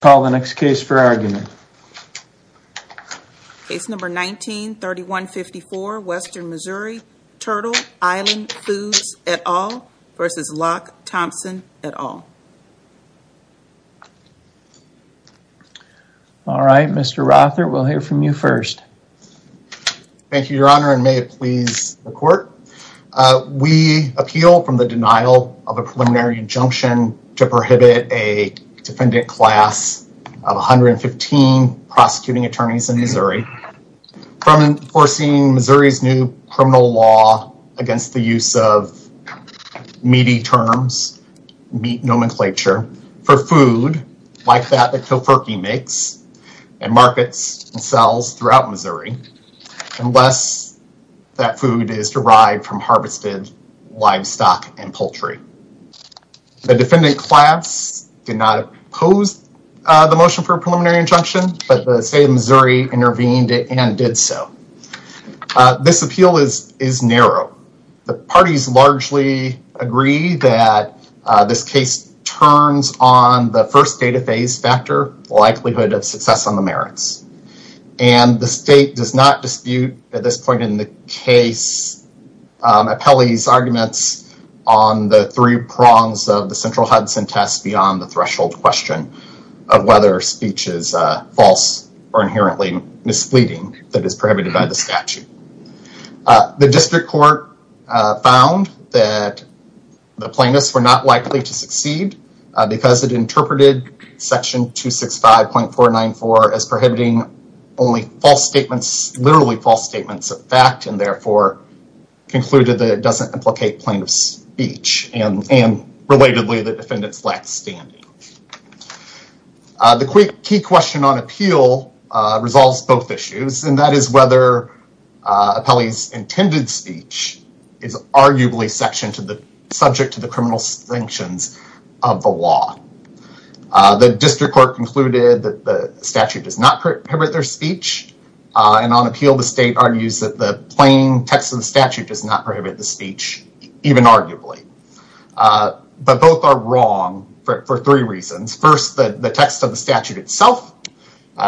Call the next case for argument. Case number 19-3154, Western Missouri, Turtle Island Foods et al. v. Locke Thompson et al. Alright, Mr. Rother, we'll hear from you first. Thank you, your honor, and may it please the court. We appeal from the denial of a preliminary injunction to prohibit a defendant class of 115 prosecuting attorneys in Missouri from forcing Missouri's new criminal law against the use of meaty terms, meat nomenclature, for food like that the Tofurky makes and markets and sells throughout Missouri, unless that the defendant class did not oppose the motion for a preliminary injunction, but the state of Missouri intervened and did so. This appeal is narrow. The parties largely agree that this case turns on the first data phase factor, likelihood of success on the merits, and the state does not dispute at this point in the case appellee's arguments on the three prongs of the central Hudson test beyond the threshold question of whether speech is false or inherently misleading that is prohibited by the statute. The district court found that the plaintiffs were not likely to succeed because it interpreted section 265.494 as prohibiting only false statements, literally false statements of fact, and therefore concluded that it doesn't implicate plaintiff's speech, and relatedly the defendant's lack of standing. The key question on appeal resolves both issues, and that is whether appellee's intended speech is arguably subject to the criminal sanctions of the law. The district court concluded that the statute does not prohibit their speech, and on appeal the state argues that the plain text of the even arguably, but both are wrong for three reasons. First, the text of the statute itself,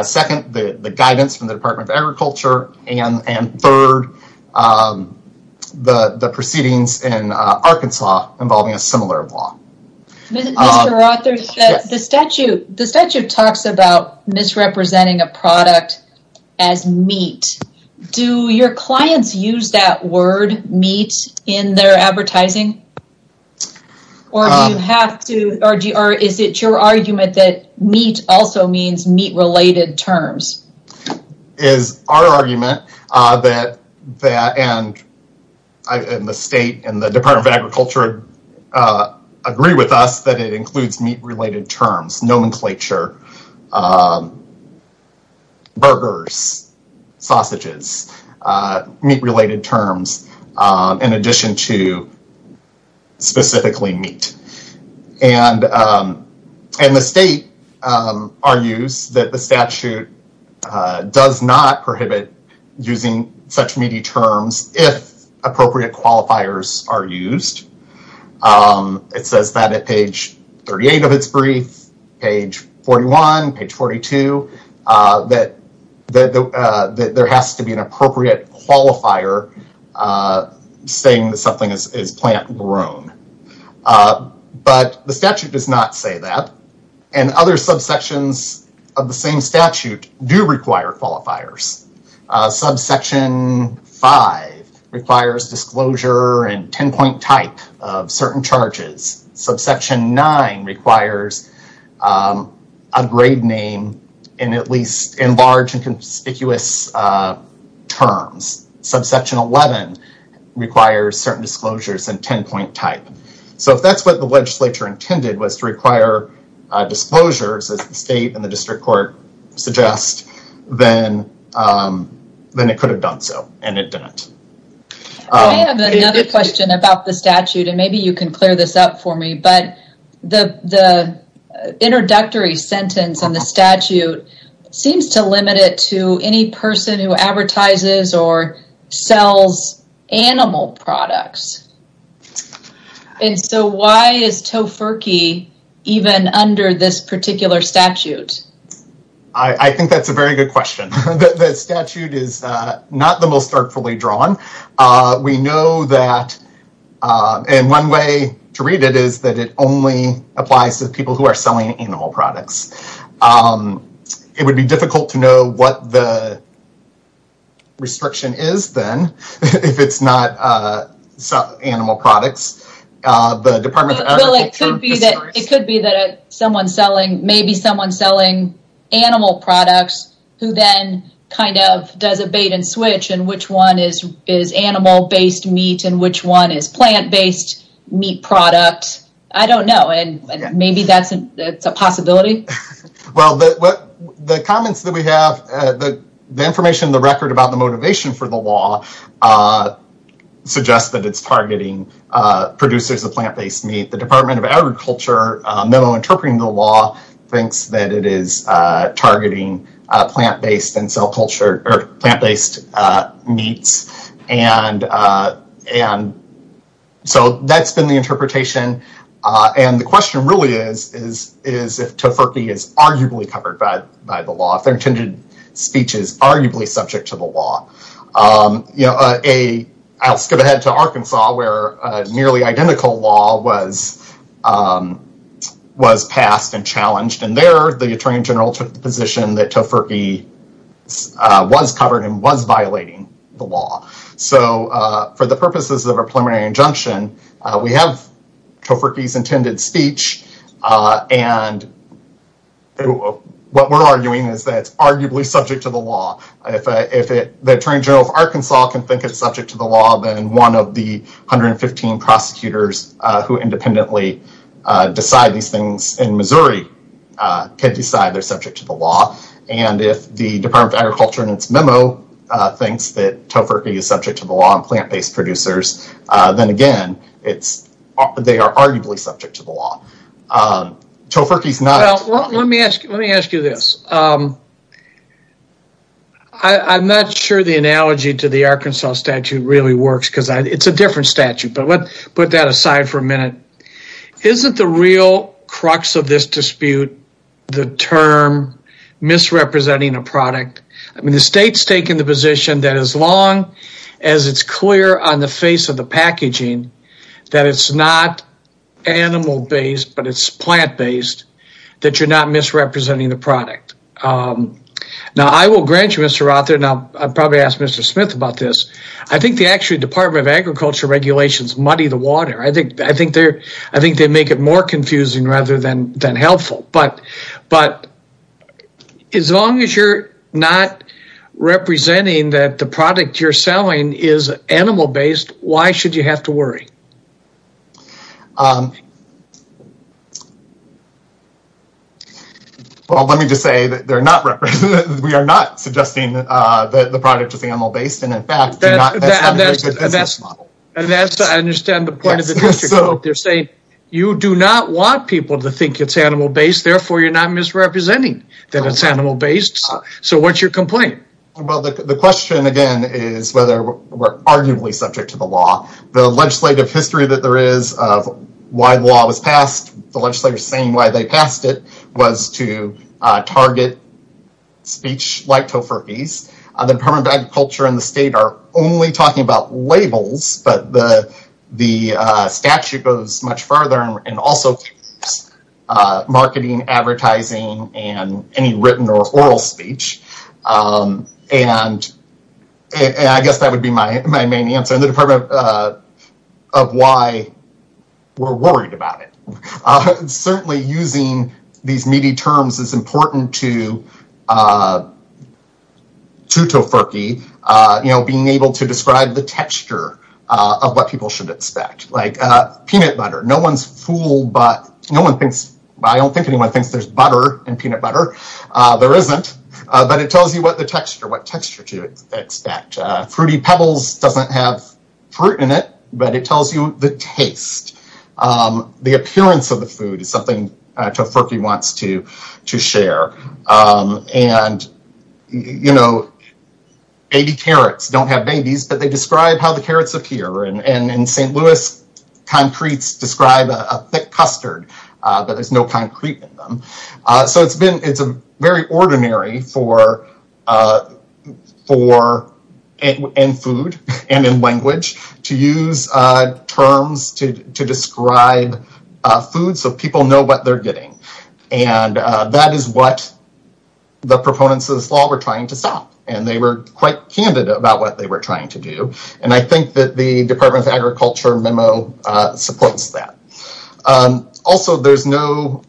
second, the guidance from the Department of Agriculture, and third, the proceedings in Arkansas involving a similar law. The statute talks about misrepresenting a product as meat. Do your clients use that word meat in their advertising, or do you have to, or is it your argument that meat also means meat-related terms? Is our argument that, and the state and the Department of Agriculture agree with us that it includes meat-related terms, nomenclature, burgers, sausages, meat-related terms, in addition to specifically meat. And the state argues that the statute does not prohibit using such meaty terms if appropriate qualifiers are used. It says that at page 38 of its brief, page 41, page 42, that there has to be an appropriate qualifier saying that something is plant-grown. But the statute does not say that, and other subsections of the same statute do require qualifiers. Subsection 5 requires disclosure and 10-point type of certain charges. Subsection 9 requires a grade name, and at least in large and conspicuous terms. Subsection 11 requires certain disclosures and 10-point type. So if that's what the legislature intended, was to require disclosures as the state and the district court suggest, then it could have done so, and it didn't. I have another question about the statute, and maybe you can clear this up for me, but the introductory sentence in the statute seems to limit it to any person who advertises or sells animal products. And so why is TOEFRKI even under this particular statute? I think that's a very good question. The statute is not the most artfully drawn. We know that, and one way to read it is that it only applies to people who are selling animal products. It would be difficult to know what the restriction is then, if it's not animal products. The Department of Agriculture... Well, it could be that someone selling, maybe someone selling animal products, who then kind of does a bait and switch, and which one is animal-based meat, and which one is plant-based meat product. I don't know, and maybe that's a possibility. Well, the comments that we have, the information in the record about the motivation for the law suggests that it's targeting producers of plant-based meat. The Department of Agriculture memo interpreting the law thinks that it is targeting plant-based meats. So that's been the interpretation, and the question really is if TOEFRKI is arguably covered by the law, if their intended speech is arguably subject to the law. You know, I'll skip ahead to Arkansas, where a nearly identical law was passed and challenged, and there the Attorney General took the position that TOEFRKI was covered and was violating the law. So for the purposes of a preliminary injunction, we have TOEFRKI's intended speech, and what we're arguing is that it's arguably subject to the law. If the Attorney General of Arkansas can think it's subject to the law, then one of the 115 prosecutors who independently decide these things in Missouri can decide they're subject to the law, and if the Department of Agriculture in its memo thinks that TOEFRKI is subject to the law on plant-based producers, then again, they are arguably subject to the law. TOEFRKI's not... Let me ask you this. I'm not sure the analogy to the Arkansas statute really works, because it's a different statute, but let's put that aside for a minute. Isn't the real crux of this dispute the term misrepresenting a product? I mean, the state's taken the position that as long as it's clear on the face of the packaging that it's not animal-based, but it's plant-based, that you're not misrepresenting the product. Now, I will grant you, Mr. Rother, and I'll probably ask Mr. Smith about this. I think the actual Department of Agriculture regulations muddy the water. I think they make it more confusing rather than helpful, but as long as you're not representing that the product you're worrying. Well, let me just say that we are not suggesting that the product is animal-based, and in fact, that's not a very good business model. And that's to understand the point of the dispute. They're saying you do not want people to think it's animal-based, therefore, you're not misrepresenting that it's animal-based. So what's your complaint? Well, the question again is whether we're arguably subject to the law. The legislative history that there is of why the law was passed, the legislators saying why they passed it, was to target speech like Tofurkey's. The Department of Agriculture and the state are only talking about labels, but the statute goes much further and also marketing, advertising, and any written or oral speech. And I guess that would be my main answer in the department of why we're worried about it. Certainly using these meaty terms is important to Tofurkey being able to describe the texture of what people should expect. Like peanut butter, no one's fooled, but I don't think anyone thinks there's butter in peanut butter. There isn't, but it tells you what texture to expect. Fruity pebbles doesn't have fruit in it, but it tells you the taste. The appearance of the food is something Tofurkey wants to share. And baby carrots don't have babies, but they describe how the carrots appear. And in St. Louis concretes describe a thick custard, but there's no concrete in them. So it's very ordinary in food and in language to use terms to describe food so people know what they're getting. And that is what the proponents of this law were trying to stop. And they were quite candid about what they were trying to do. And I think that the Department of Agriculture memo supports that. Also, there's no...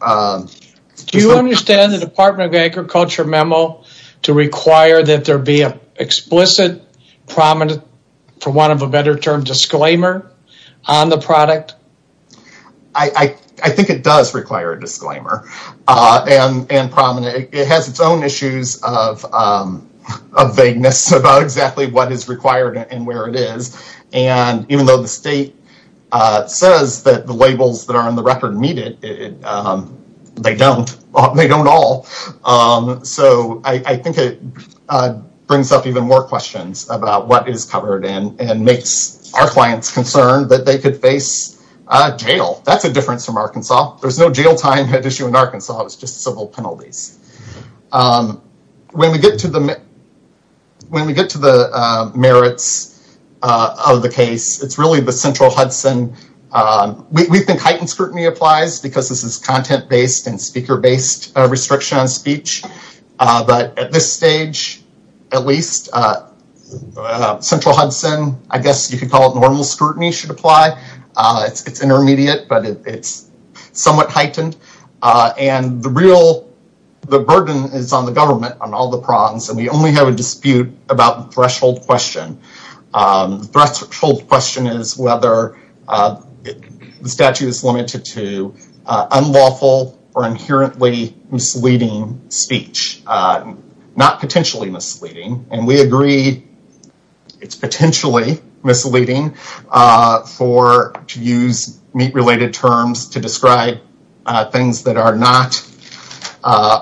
Do you understand the Department of Agriculture memo to require that there be an explicit prominent, for want of a better term, disclaimer on the product? I think it does require a disclaimer and prominent. It has its own issues of exactly what is required and where it is. And even though the state says that the labels that are in the record meet it, they don't. They don't all. So I think it brings up even more questions about what is covered and makes our clients concerned that they could face jail. That's a difference from Arkansas. There's no jail time had issue in Arkansas. It was just civil penalties. When we get to the merits of the case, it's really the central Hudson. We think heightened scrutiny applies because this is content-based and speaker-based restriction on speech. But at this stage, at least, central Hudson, I guess you could call it normal scrutiny should apply. It's intermediate, but it's somewhat heightened. And the real burden is on the government, on all the prongs. And we only have a dispute about the threshold question. The threshold question is whether the statute is limited to unlawful or inherently misleading speech, not potentially misleading. And we agree it's potentially misleading for to use meat-related terms to describe things that are not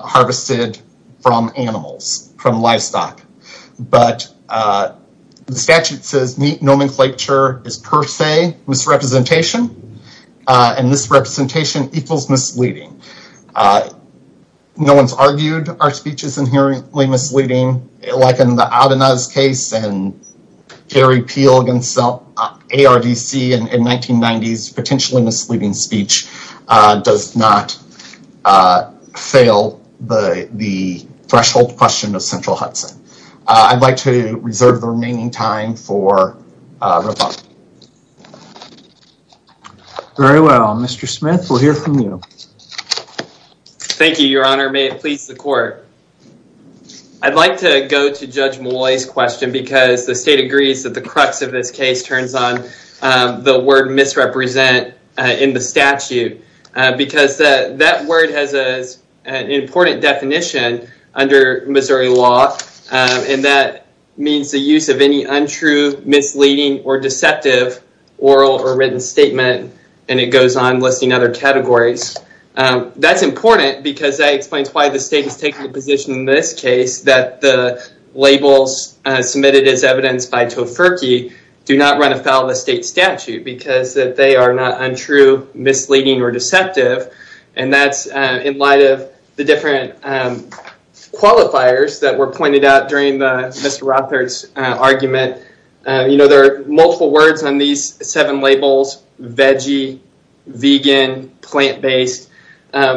harvested from animals, from livestock. But the statute says meat nomenclature is per se misrepresentation. And this representation equals misleading. No one's argued our speech is inherently misleading, like in the Adena's case and Gary Peel against ARDC in 1990s, potentially misleading speech does not fail the threshold question of central Hudson. I'd like to reserve the remaining time for rebuttal. Very well, Mr. Smith, we'll hear from you. Thank you, your honor. May it please the go to Judge Molloy's question, because the state agrees that the crux of this case turns on the word misrepresent in the statute, because that word has an important definition under Missouri law. And that means the use of any untrue, misleading, or deceptive oral or written statement. And it goes on listing other categories. That's important because that is taking a position in this case, that the labels submitted as evidence by Tofurky do not run afoul of the state statute, because that they are not untrue, misleading, or deceptive. And that's in light of the different qualifiers that were pointed out during the Mr. Rother's argument. There are multiple words on these seven labels, veggie, vegan, plant-based.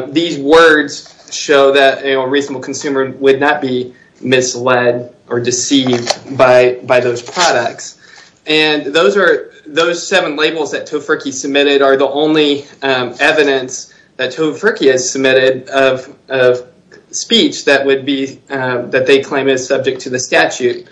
These words show that a reasonable consumer would not be misled or deceived by those products. And those seven labels that Tofurky submitted are the only evidence that Tofurky has submitted of speech that would be that they claim is subject to the statute.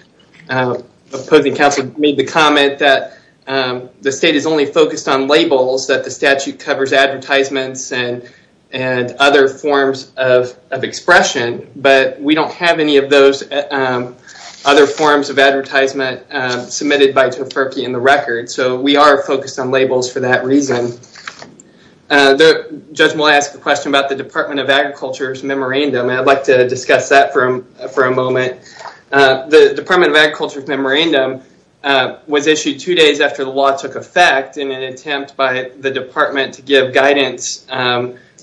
Opposing counsel made the comment that the state is only focused on labels, that the statute covers advertisements and other forms of expression. But we don't have any of those other forms of advertisement submitted by Tofurky in the record. So we are focused on labels for that reason. The judge will ask a question about the Department of Agriculture's memorandum. And I'd like to discuss that for a moment. The Department of Agriculture's memorandum was issued two days after the law took effect in an attempt by the department to give guidance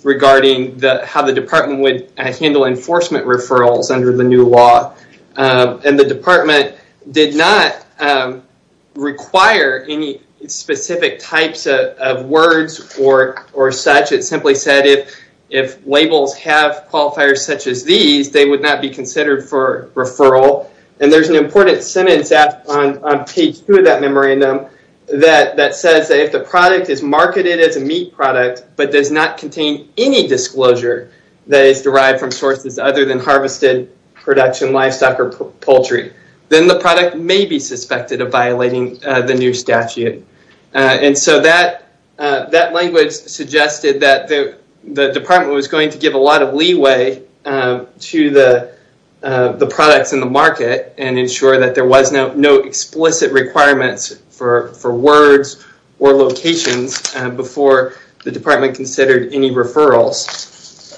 regarding how the department would handle enforcement referrals under the new law. And the department did not require any specific types of words or such. It simply said if labels have qualifiers such as these, they would not be And there's an important sentence on page two of that memorandum that says that if the product is marketed as a meat product but does not contain any disclosure that is derived from sources other than harvested production livestock or poultry, then the product may be suspected of violating the new statute. And so that language suggested that the department was going to give a lot of and ensure that there was no explicit requirements for words or locations before the department considered any referrals.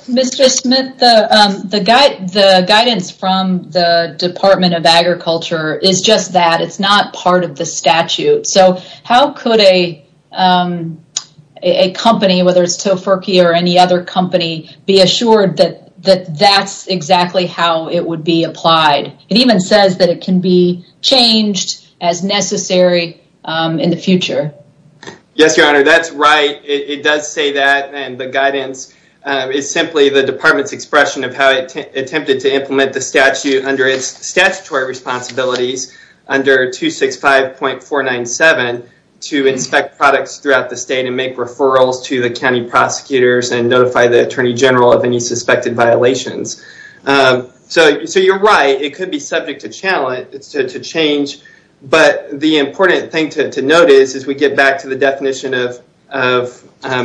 Mr. Smith, the guidance from the Department of Agriculture is just that. It's not part of the statute. So how could a company, whether it's It even says that it can be changed as necessary in the future. Yes, your honor, that's right. It does say that and the guidance is simply the department's expression of how it attempted to implement the statute under its statutory responsibilities under 265.497 to inspect products throughout the state and make referrals to the county prosecutors and notify the attorney general of any suspected violations. So you're right, it could be subject to challenge, to change. But the important thing to notice as we get back to the definition of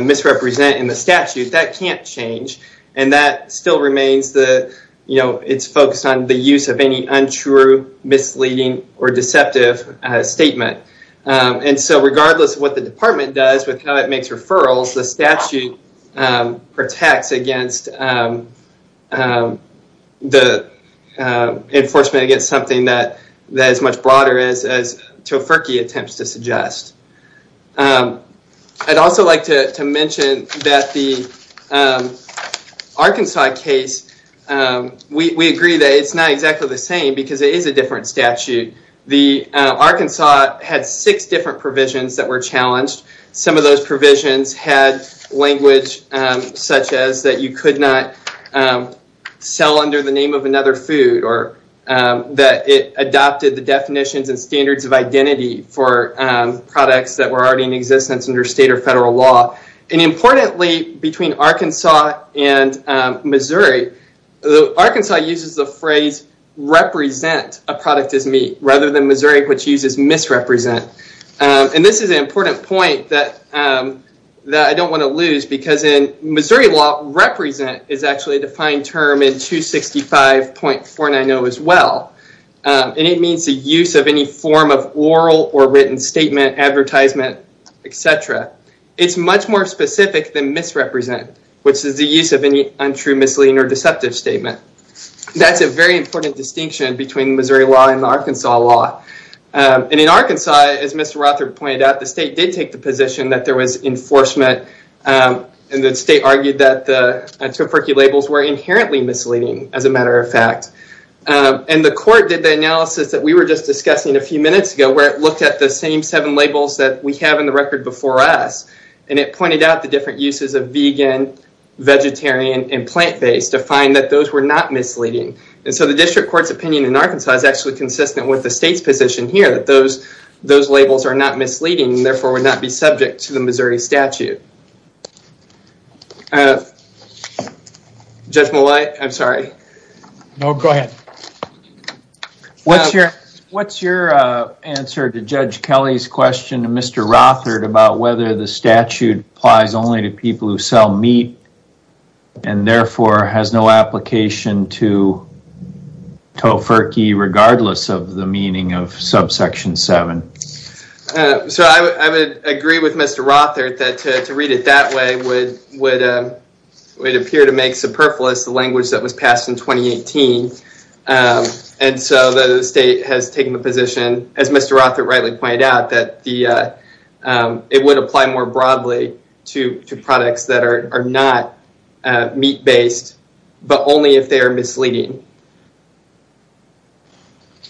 misrepresent in the statute, that can't change. And that still remains the, you know, it's focused on the use of any untrue, misleading, or deceptive statement. And so regardless of what the department does with how it makes referrals, the statute protects against the enforcement against something that is as much broader as Toferky attempts to suggest. I'd also like to mention that the Arkansas case, we agree that it's not exactly the same because it is a different statute. The Arkansas had six different provisions that were challenged. Some of those provisions had language such as that you could not sell under the name of another food, or that it adopted the definitions and standards of identity for products that were already in existence under state or federal law. And importantly, between Arkansas and Missouri, Arkansas uses the phrase, represent a product as meat, rather than Missouri, which uses misrepresent. And this is an important point that I don't want to lose because in Missouri law, represent is actually a defined term in 265.490 as well. And it means the use of any form of oral or written statement, advertisement, etc. It's much more specific than misrepresent, which is the use of untrue, misleading, or deceptive statement. That's a very important distinction between Missouri law and Arkansas law. And in Arkansas, as Mr. Rother pointed out, the state did take the position that there was enforcement, and the state argued that the Toferky labels were inherently misleading, as a matter of fact. And the court did the analysis that we were just discussing a few minutes ago, where it looked at the same seven labels that we have in the record before us, and it pointed out the different uses of vegan, vegetarian, and plant-based, to find that those were not misleading. And so the district court's opinion in Arkansas is actually consistent with the state's position here, that those labels are not misleading, and therefore would not be subject to the Missouri statute. Judge Mollet, I'm sorry. No, go ahead. What's your answer to Judge Kelly's question to Mr. Rother, about whether the statute applies only to people who sell meat, and therefore has no application to Toferky, regardless of the meaning of subsection 7? So I would agree with Mr. Rother, that to read it that way would appear to make superfluous the language that was passed in 2018. And so the state has taken the position, as Mr. Rother rightly pointed out, that it would apply more broadly to products that are not meat-based, but only if they are misleading.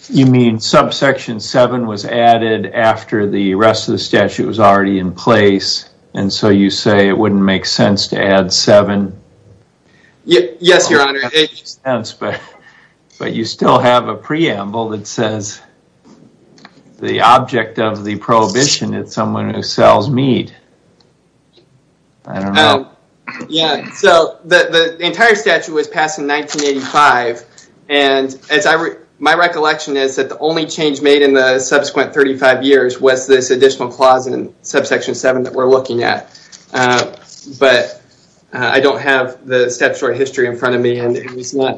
You mean subsection 7 was added after the rest of the statute was already in place, and so you say it wouldn't make sense to add 7? Yes, your honor. But you still have a preamble that says the object of the prohibition is someone who sells meat. I don't know. Yeah, so the entire statute was passed in 1985, and my recollection is that the only change made in the But I don't have the statutory history in front of me, and it was not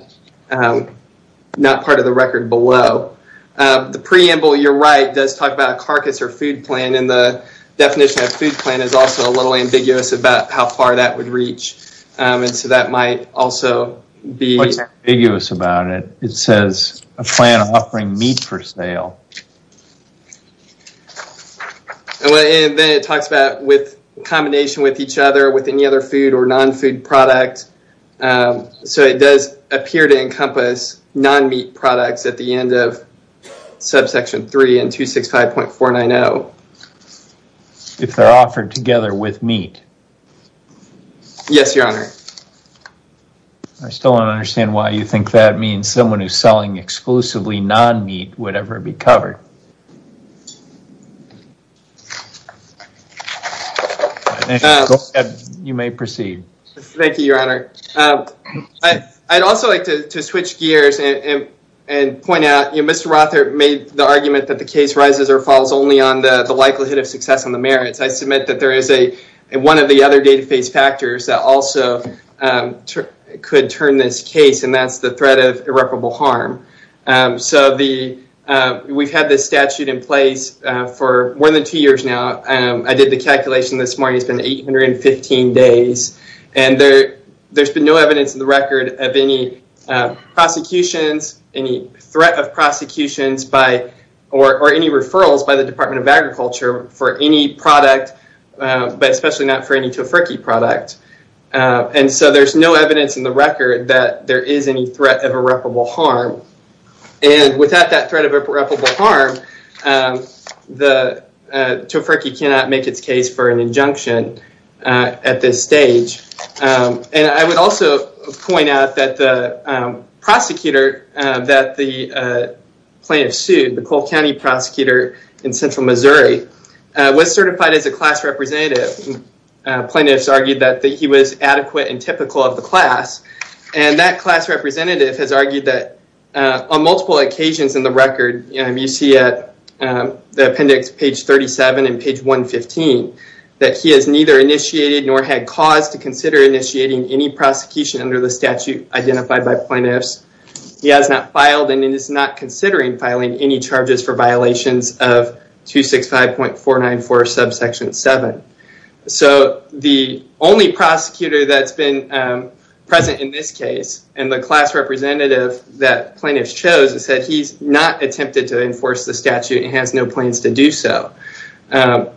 part of the record below. The preamble, you're right, does talk about a carcass or food plan, and the definition of food plan is also a little ambiguous about how far that would reach, and so that might also be... What's ambiguous about it? It says a plan offering meat for sale. And then it talks about with combination with each other, with any other food or non-food product, so it does appear to encompass non-meat products at the end of subsection 3 and 265.490. If they're offered together with meat. Yes, your honor. I still don't understand why you think that means someone who's selling exclusively non-meat would ever be covered. You may proceed. Thank you, your honor. I'd also like to switch gears and point out, Mr. Rothert made the argument that the case rises or falls only on the likelihood of success on the merits. I submit that there is one of the other data phase factors that also could turn this case, and that's the threat of irreparable harm. We've had this statute in place for more than two years now. I did the calculation this morning, it's been 815 days, and there's been no evidence in the record of any prosecutions, any threat of prosecutions, or any referrals by the Department of Agriculture for any product, but especially not for any Tofurky product. And so there's no threat of irreparable harm. And without that threat of irreparable harm, the Tofurky cannot make its case for an injunction at this stage. And I would also point out that the prosecutor that the plaintiff sued, the Cole County prosecutor in Central Missouri, was certified as a class representative. Plaintiffs argued that he was adequate and and that class representative has argued that on multiple occasions in the record, you see at the appendix page 37 and page 115, that he has neither initiated nor had cause to consider initiating any prosecution under the statute identified by plaintiffs. He has not filed and is not considering filing any charges for violations of 265.494 subsection 7. So the only prosecutor that's been present in this case and the class representative that plaintiffs chose is that he's not attempted to enforce the statute and has no plans to do so.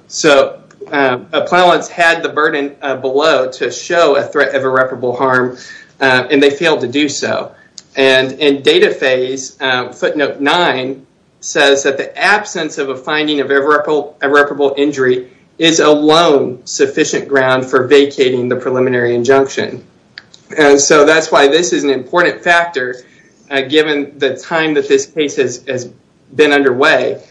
So appellants had the burden below to show a threat of irreparable harm, and they failed to do so. And in data phase footnote 9 says that the absence of a finding of irreparable injury is alone sufficient ground for vacating the preliminary injunction. And so that's why this is an important factor given the time that this case has been underway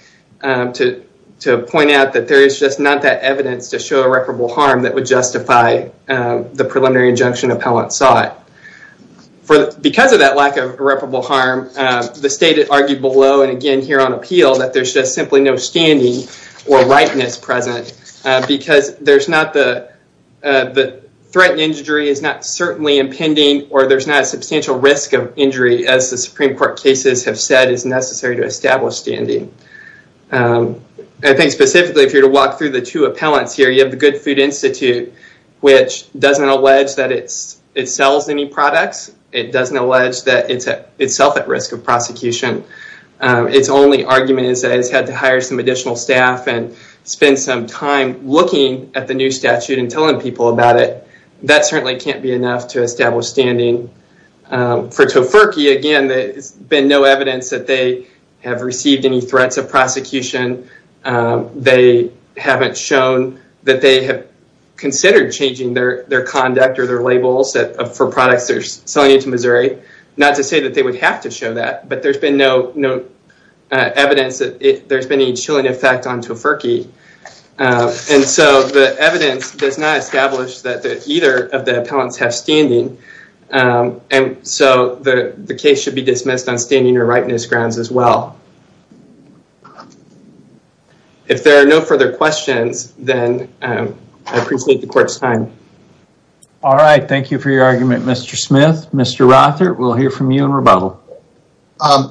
to point out that there is just not that evidence to show irreparable harm that would justify the preliminary injunction appellant sought. Because of that lack of irreparable harm, the state argued below and here on appeal that there's just simply no standing or likeness present. Because there's not the threatened injury is not certainly impending or there's not a substantial risk of injury as the Supreme Court cases have said is necessary to establish standing. I think specifically if you're to walk through the two appellants here, you have the Good Food Institute, which doesn't allege that it sells any products. It doesn't allege that it's itself at prosecution. Its only argument is that it's had to hire some additional staff and spend some time looking at the new statute and telling people about it. That certainly can't be enough to establish standing. For Tofurky, again, there's been no evidence that they have received any threats of prosecution. They haven't shown that they have considered changing their conduct or their labels for products they're selling into Missouri. Not to say that they would have to show that. But there's been no evidence that there's been a chilling effect on Tofurky. And so the evidence does not establish that either of the appellants have standing. And so the case should be dismissed on standing or likeness grounds as well. If there are no further questions, then I appreciate the court's time. All right. Thank you for your argument, Mr. Smith. Mr. Rothert, we'll hear from you in rebuttal.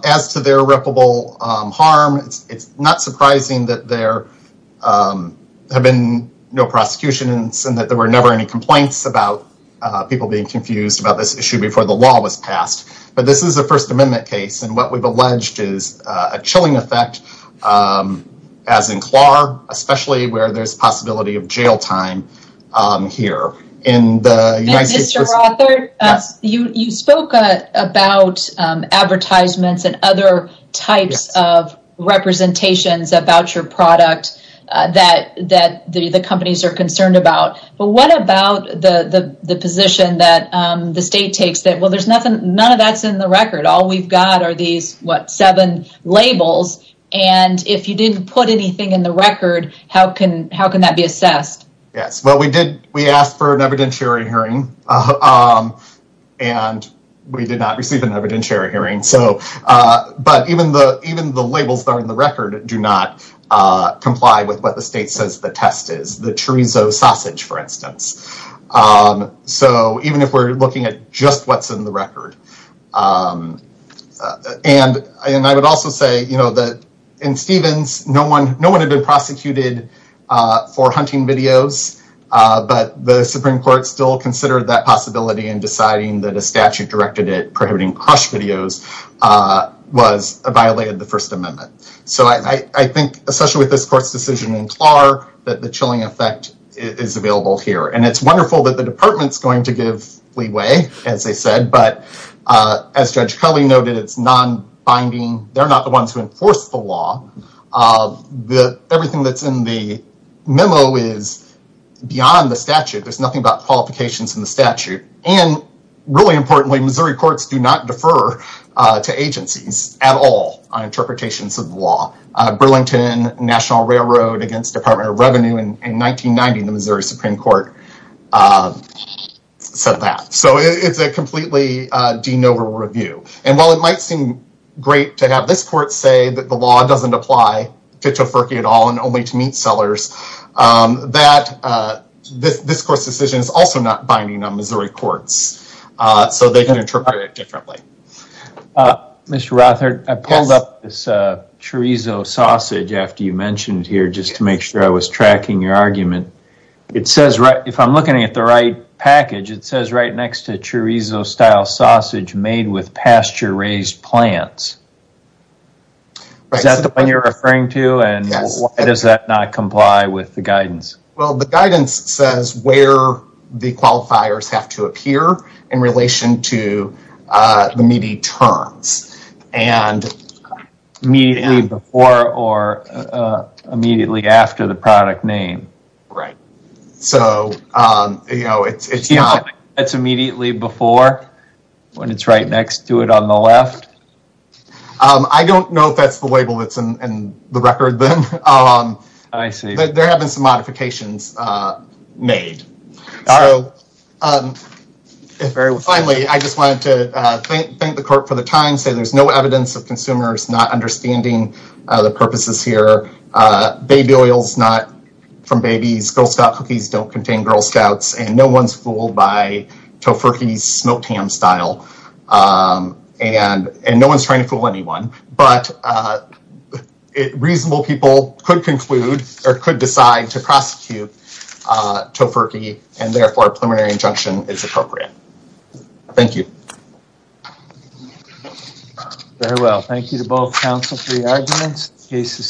As to their reputable harm, it's not surprising that there have been no prosecutions and that there were never any complaints about people being confused about this issue before the law was passed. But this is a First Amendment case, and what we've alleged is a chilling effect, as in Clark, especially where there's possibility of jail time here. And Mr. Rothert, you spoke about advertisements and other types of representations about your product that the companies are concerned about. But what about the position that the state takes that, well, there's nothing, none of that's in the record. All we've got are these, what, seven labels. And if you didn't put anything in the record, how can that be assessed? Yes. Well, we asked for an evidentiary hearing, and we did not receive an evidentiary hearing. But even the labels that are in the record do not comply with what the state says the test is, the chorizo sausage, for instance. So even if we're looking at just what's in the record. And I would also say that in Stevens, no one had been prosecuted for hunting videos, but the Supreme Court still considered that possibility in deciding that a statute directed it prohibiting crush videos violated the First Amendment. So I think, especially with this court's decision in Clark, that the chilling effect is available here. And it's wonderful that the department's going to give leeway, as they said, but as Judge Cully noted, it's non-binding. They're not the ones who enforce the law. Everything that's in the memo is beyond the statute. There's nothing about qualifications in the statute. And really importantly, Missouri courts do not defer to agencies at all on interpretations of the law. Burlington National Railroad against Department of Revenue in 1990, the Missouri Supreme Court, said that. So it's a completely de novo review. And while it might seem great to have this court say that the law doesn't apply to Tofurky at all and only to meat sellers, that this court's decision is also not binding on Missouri courts. So they can interpret it differently. Mr. Rothard, I pulled up this chorizo sausage after you mentioned here, just to make sure I was tracking your argument. If I'm looking at the right package, it says right next to chorizo style sausage made with pasture raised plants. Is that the one you're referring to? And why does that not comply with the guidance? Well, the guidance says where the qualifiers have to appear in relation to the meaty terms. And immediately before or immediately after the product name. Right. So, you know, it's not... It's immediately before when it's right next to it on the left? I don't know if that's the label that's in the record then. I see. There have been some Finally, I just wanted to thank the court for the time, say there's no evidence of consumers not understanding the purposes here. Baby oils not from babies, Girl Scout cookies don't contain Girl Scouts, and no one's fooled by Tofurky's smoked ham style. And no one's trying to fool anyone. But reasonable people could conclude or could decide to prosecute Tofurky and therefore preliminary injunction is appropriate. Thank you. Very well. Thank you to both counsel for your arguments. The case is